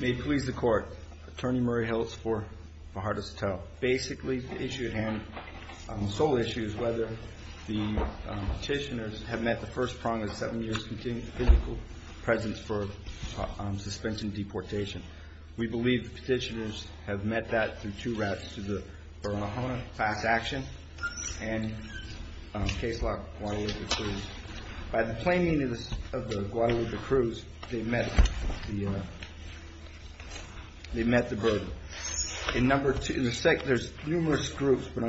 May it please the Court, Attorney Murray Hiltz v. Baharta Sotelo, basically the issue at hand, the sole issue is whether the petitioners have met the first prong of seven years physical presence for suspension and deportation. We believe the petitioners have met that through two routes, through the Burma-Hona fast action and case law Guadalupe Cruz. By the planning of the Guadalupe Cruz, they met the burden. In the second, there's numerous groups, but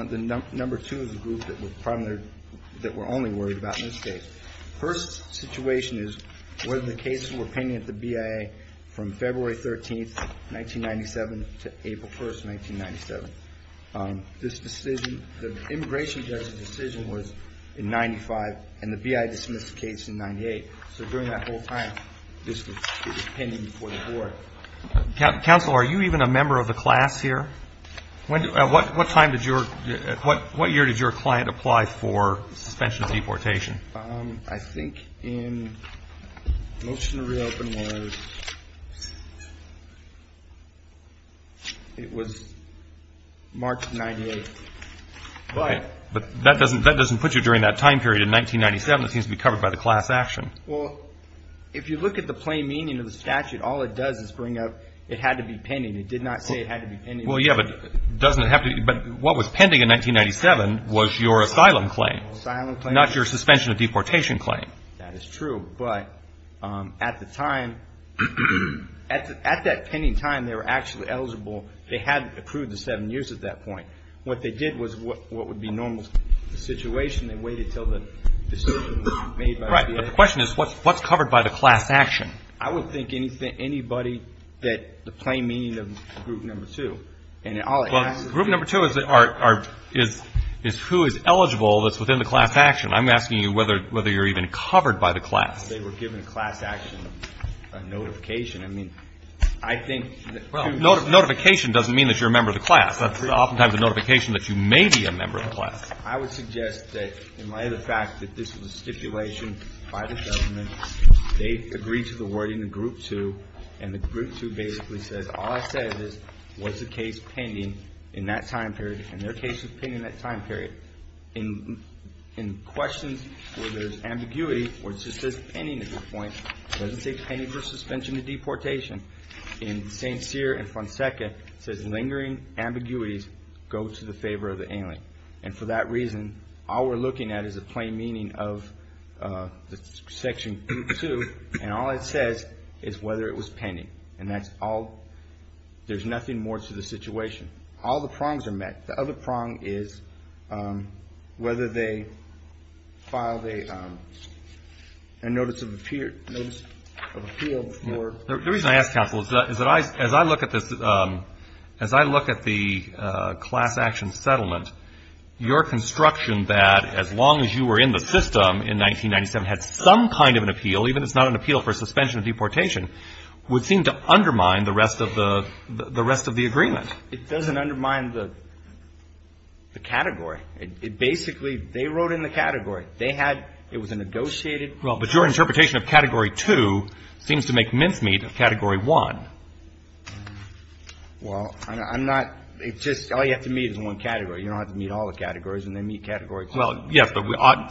number two is the group that we're only worried about in this case. The first situation is whether the cases were pending at the BIA from February 13, 1997 to April 1, 1997. This decision, the immigration judge's decision was in 95, and the BIA dismissed the case in 98. So during that whole time, this was pending before the Court. Counsel, are you even a member of the class here? What year did your client apply for suspension of deportation? I think in motion to reopen was March of 98. But that doesn't put you during that time period in 1997. It seems to be covered by the class action. Well, if you look at the plain meaning of the statute, all it does is bring up it had to be pending. It did not say it had to be pending. Well, yeah, but what was pending in 1997 was your asylum claim, not your suspension of deportation claim. That is true. But at that pending time, they were actually eligible. They hadn't approved the seven years at that point. What they did was what would be normal situation. They waited until the decision was made by the BIA. But the question is, what's covered by the class action? I would think anybody that the plain meaning of group number two. Well, group number two is who is eligible that's within the class action. I'm asking you whether you're even covered by the class. They were given a class action, a notification. I mean, I think. Well, notification doesn't mean that you're a member of the class. That's oftentimes a notification that you may be a member of the class. I would suggest that in light of the fact that this was a stipulation by the government, they agreed to the wording of group two. And the group two basically says all it says is what's the case pending in that time period. And their case is pending in that time period. In questions where there's ambiguity, where it just says pending at this point, it doesn't say pending for suspension of deportation. In St. Cyr and Fonseca, it says lingering ambiguities go to the favor of the alien. And for that reason, all we're looking at is the plain meaning of section two. And all it says is whether it was pending. And that's all. There's nothing more to the situation. All the prongs are met. The other prong is whether they filed a notice of appeal. The reason I ask, counsel, is that as I look at this, as I look at the class action settlement, your construction that as long as you were in the system in 1997 had some kind of an appeal, even if it's not an appeal for suspension of deportation, would seem to undermine the rest of the agreement. It doesn't undermine the category. It basically, they wrote in the category. They had, it was a negotiated. Well, but your interpretation of Category 2 seems to make mincemeat of Category 1. Well, I'm not, it's just, all you have to meet is one category. You don't have to meet all the categories and then meet Category 2. Well, yes, but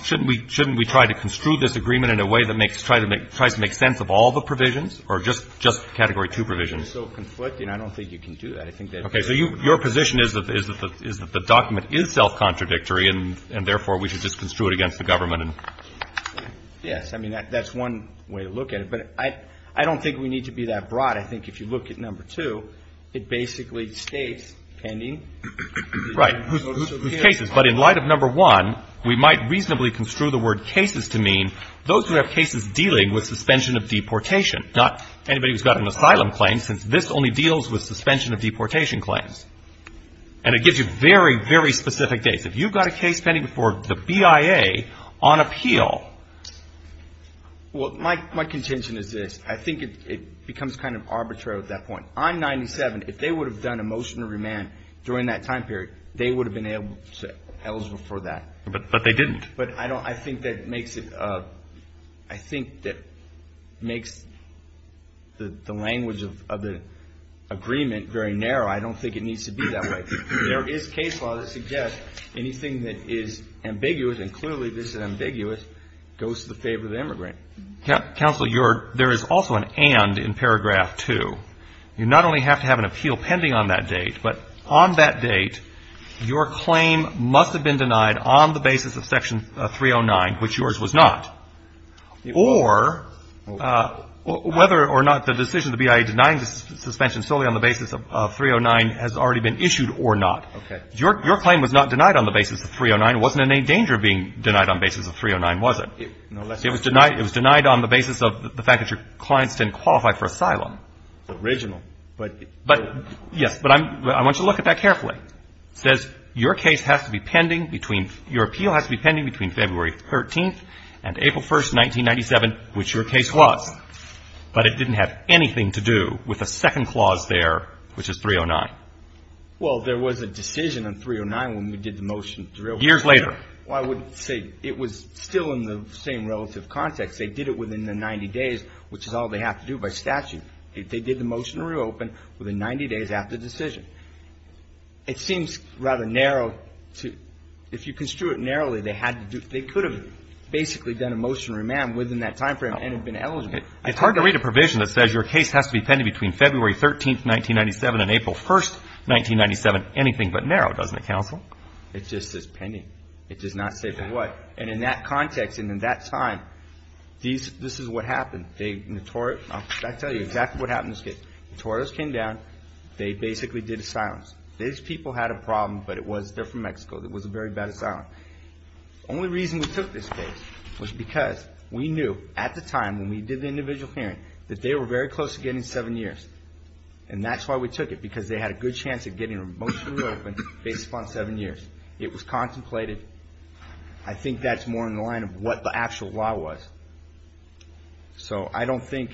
shouldn't we try to construe this agreement in a way that makes, tries to make sense of all the provisions or just Category 2 provisions? It's so conflicting, I don't think you can do that. I think that's. Okay. So your position is that the document is self-contradictory and therefore we should just construe it against the government. Yes. I mean, that's one way to look at it. But I don't think we need to be that broad. I think if you look at Number 2, it basically states pending. Right. Whose cases. But in light of Number 1, we might reasonably construe the word cases to mean those who have cases dealing with suspension of deportation, not anybody who's got an asylum claim, since this only deals with suspension of deportation claims. And it gives you very, very specific dates. If you've got a case pending before the BIA on appeal. Well, my contention is this. I think it becomes kind of arbitrary at that point. I'm 97. If they would have done a motion to remand during that time period, they would have been eligible for that. But they didn't. But I think that makes it, I think that makes the language of the agreement very narrow. I don't think it needs to be that way. There is case law that suggests anything that is ambiguous, and clearly this is ambiguous, goes to the favor of the immigrant. Counsel, there is also an and in paragraph 2. You not only have to have an appeal pending on that date, but on that date your claim must have been denied on the basis of Section 309, which yours was not. Or whether or not the decision of the BIA denying the suspension solely on the basis of 309 has already been issued or not. Okay. Your claim was not denied on the basis of 309. It wasn't in any danger of being denied on the basis of 309, was it? It was denied on the basis of the fact that your clients didn't qualify for asylum. It's original. Yes. But I want you to look at that carefully. It says your case has to be pending between, your appeal has to be pending between February 13th and April 1st, 1997, which your case was. But it didn't have anything to do with the second clause there, which is 309. Well, there was a decision on 309 when we did the motion to reopen. Years later. Well, I would say it was still in the same relative context. They did it within the 90 days, which is all they have to do by statute. They did the motion to reopen within 90 days after decision. It seems rather narrow to, if you construe it narrowly, they had to do, they could have basically done a motion to remand within that time frame and have been eligible. It's hard to read a provision that says your case has to be pending between February 13th, 1997 and April 1st, 1997. Anything but narrow, doesn't it, counsel? It just says pending. It does not say for what. And in that context and in that time, this is what happened. I'll tell you exactly what happened in this case. Notorious came down. They basically did asylums. These people had a problem, but it was, they're from Mexico, it was a very bad asylum. Only reason we took this case was because we knew at the time when we did the individual hearing, that they were very close to getting seven years. And that's why we took it, because they had a good chance of getting a motion to reopen based upon seven years. It was contemplated. I think that's more in the line of what the actual law was. So I don't think,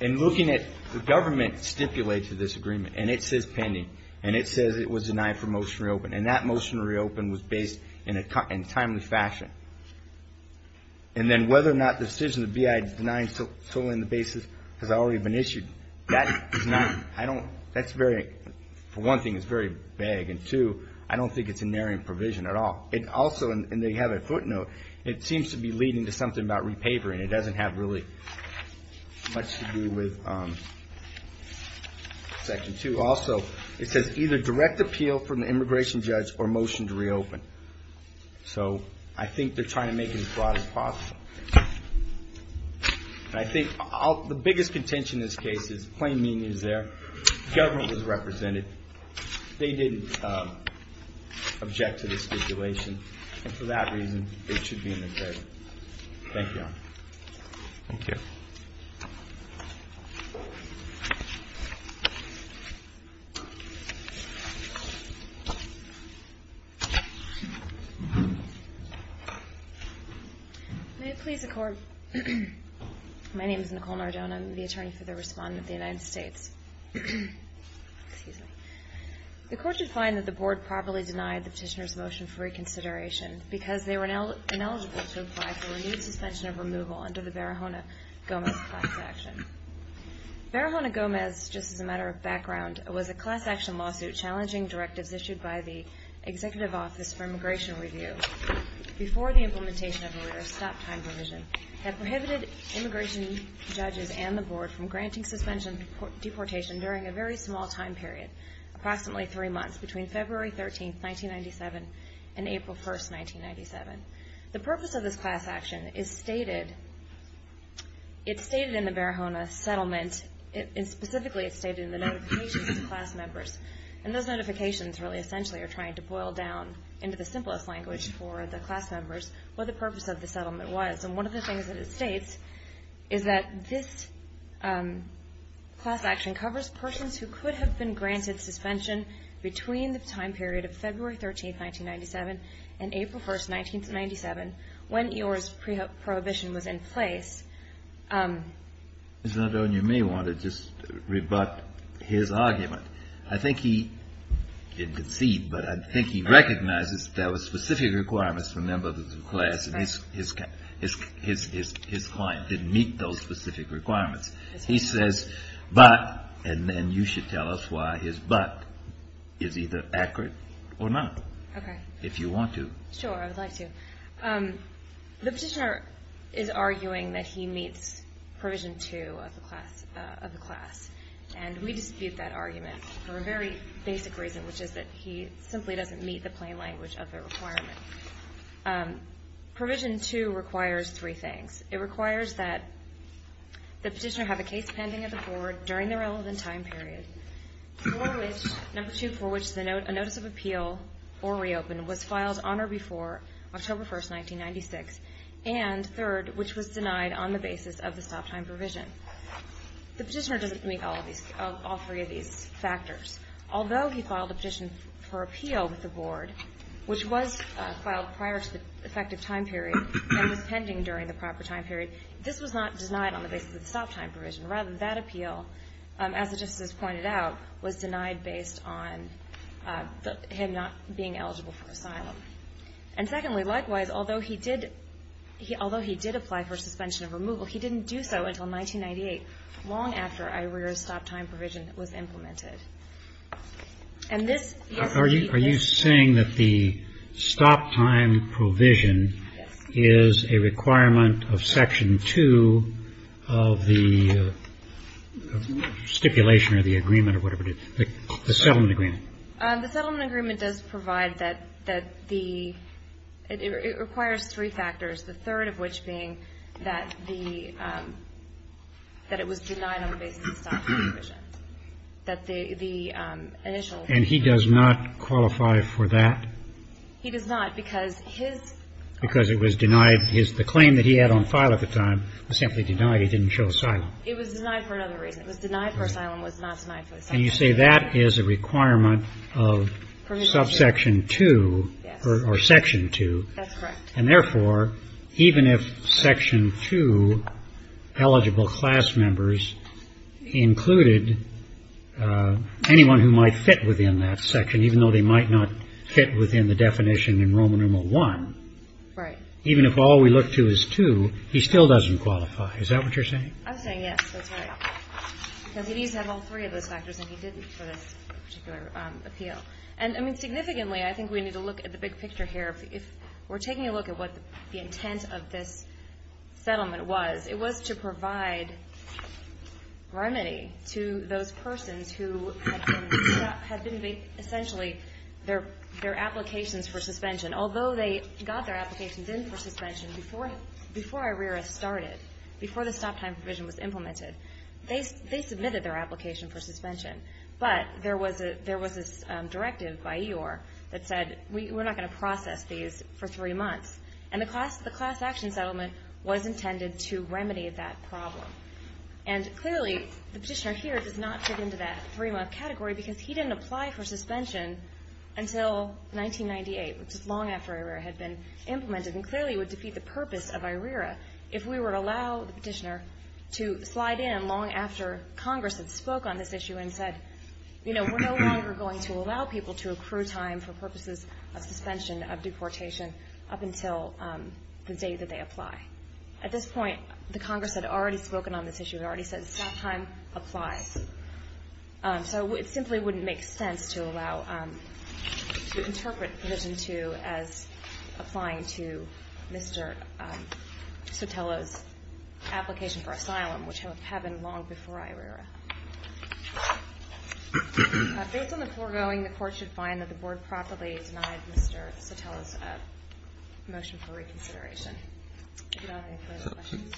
in looking at the government stipulates to this agreement, and it says pending, and it says it was denied for motion to reopen, and that motion to reopen was based in a timely fashion. And then whether or not the decision of the BIA denying the basis has already been issued. That is not, I don't, that's very, for one thing, it's very vague, and two, I don't think it's a narrowing provision at all. Also, and they have a footnote, it seems to be leading to something about repavering. It doesn't have really much to do with Section 2. Also, it says either direct appeal from the immigration judge or motion to reopen. So I think they're trying to make it as broad as possible. And I think the biggest contention in this case is plain mean news there. The government was represented. They didn't object to the stipulation. And for that reason, they should be in the jury. Thank you. Thank you. May it please the Court? My name is Nicole Nardone. I'm the attorney for the Respondent of the United States. Excuse me. The Court should find that the Board properly denied the Petitioner's motion for reconsideration because they were ineligible to apply for renewed suspension of removal under the Barahona-Gomez class action. Barahona-Gomez, just as a matter of background, was a class action lawsuit challenging directives issued by the Executive Office for Immigration Review before the implementation of a rare stop time provision that prohibited immigration judges and the Board from granting suspension of deportation during a very small time period, approximately three months, between February 13, 1997 and April 1, 1997. The purpose of this class action is stated in the Barahona settlement. Specifically, it's stated in the notifications to class members. And those notifications really essentially are trying to boil down into the simplest language for the class members what the purpose of the settlement was. And one of the things that it states is that this class action covers persons who could have been granted suspension between the time period of February 13, 1997 and April 1, 1997 when EOR's prohibition was in place. Ms. Nardone, you may want to just rebut his argument. I think he didn't concede, but I think he recognizes that there were specific requirements for members of the class. And his client didn't meet those specific requirements. He says, but, and then you should tell us why his but is either accurate or not, if you want to. Sure, I would like to. The petitioner is arguing that he meets provision two of the class. And we dispute that argument for a very basic reason, which is that he simply doesn't meet the plain language of the requirement. Provision two requires three things. It requires that the petitioner have a case pending at the Board during the relevant time period, for which, number two, for which a notice of appeal or reopen was filed on or before October 1, 1996, and third, which was denied on the basis of the stop time provision. The petitioner doesn't meet all three of these factors. Although he filed a petition for appeal with the Board, which was filed prior to the effective time period and was pending during the proper time period, this was not denied on the basis of the stop time provision. Rather, that appeal, as the justices pointed out, was denied based on him not being eligible for asylum. And secondly, likewise, although he did apply for suspension of removal, he didn't do so until 1998, long after IREER's stop time provision was implemented. And this is the case. Are you saying that the stop time provision is a requirement of section two of the stipulation or the agreement or whatever it is, the settlement agreement? The settlement agreement does provide that the ‑‑ it requires three factors, the third of which being that the ‑‑ that it was denied on the basis of the stop time provision. That the initial ‑‑ And he does not qualify for that? He does not, because his ‑‑ Because it was denied. The claim that he had on file at the time was simply denied. He didn't show asylum. It was denied for another reason. It was denied for asylum. It was not denied for asylum. And you say that is a requirement of subsection two or section two. That's correct. And therefore, even if section two eligible class members included anyone who might fit within that section, even though they might not fit within the definition in Roman numeral one, even if all we look to is two, he still doesn't qualify. Is that what you're saying? I'm saying yes, that's right. Because he did have all three of those factors and he didn't for this particular appeal. And, I mean, significantly, I think we need to look at the big picture here. If we're taking a look at what the intent of this settlement was, it was to provide remedy to those persons who had been essentially their applications for suspension. Although they got their applications in for suspension before ARERA started, before the stop time provision was implemented, they submitted their application for suspension. But there was this directive by EOIR that said we're not going to process these for three months. And the class action settlement was intended to remedy that problem. And clearly the petitioner here does not fit into that three-month category because he didn't apply for suspension until 1998, which is long after ARERA had been implemented. And clearly it would defeat the purpose of ARERA if we were to allow the petitioner to slide in long after Congress had spoke on this issue and said, you know, we're no longer going to allow people to accrue time for purposes of suspension, of deportation, up until the date that they apply. At this point, the Congress had already spoken on this issue. It already said stop time applies. So it simply wouldn't make sense to allow, to interpret provision two as applying to Mr. Sotelo's application for asylum, which had been long before ARERA. Based on the foregoing, the Court should find that the Board properly denied Mr. Sotelo's motion for reconsideration. Do you have any further questions?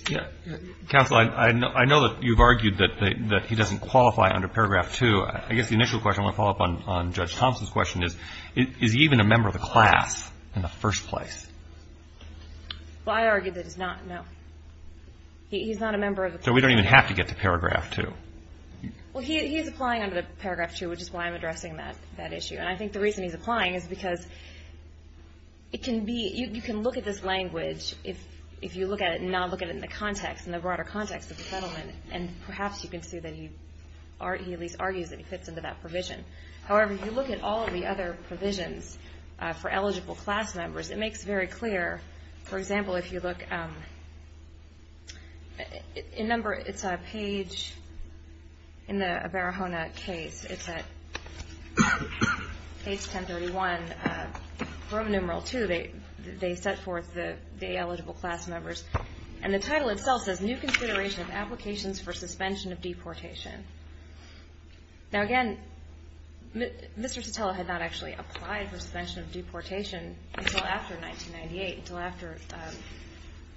Counsel, I know that you've argued that he doesn't qualify under paragraph two. I guess the initial question, I want to follow up on Judge Thompson's question, is, is he even a member of the class in the first place? Well, I argue that he's not, no. He's not a member of the class. So we don't even have to get to paragraph two. Well, he is applying under paragraph two, which is why I'm addressing that issue. And I think the reason he's applying is because it can be, you can look at this language, if you look at it and not look at it in the context, in the broader context of the settlement, and perhaps you can see that he at least argues that he fits into that provision. However, if you look at all of the other provisions for eligible class members, it makes very clear, for example, if you look, in number, it's a page in the Barahona case. It's at page 1031, Roman numeral two. They set forth the eligible class members. And the title itself says, New Consideration of Applications for Suspension of Deportation. Now, again, Mr. Sotelo had not actually applied for suspension of deportation until after 1998,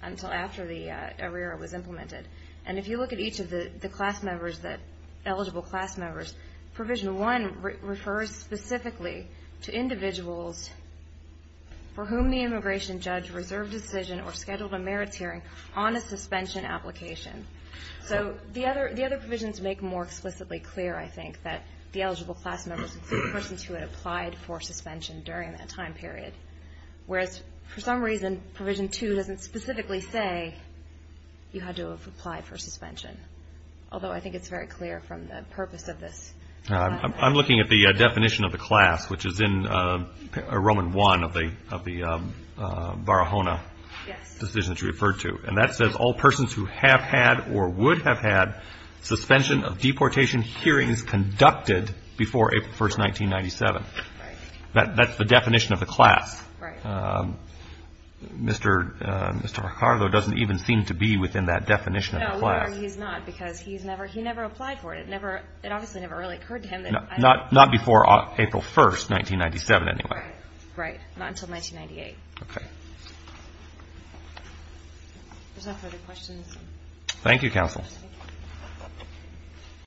until after the ARERA was implemented. And if you look at each of the class members, the eligible class members, provision one refers specifically to individuals for whom the immigration judge reserved a decision or scheduled a merits hearing on a suspension application. So the other provisions make more explicitly clear, I think, that the eligible class members include persons who had applied for suspension during that time period. Whereas, for some reason, provision two doesn't specifically say you had to have applied for suspension, although I think it's very clear from the purpose of this. I'm looking at the definition of the class, which is in Roman one of the Barahona decisions you referred to. And that says all persons who have had or would have had suspension of deportation hearings conducted before April 1, 1997. That's the definition of the class. Mr. Ricardo doesn't even seem to be within that definition of the class. No, he's not, because he never applied for it. It obviously never really occurred to him. Not before April 1, 1997, anyway. Right, not until 1998. Okay. If there's no further questions. Thank you, counsel.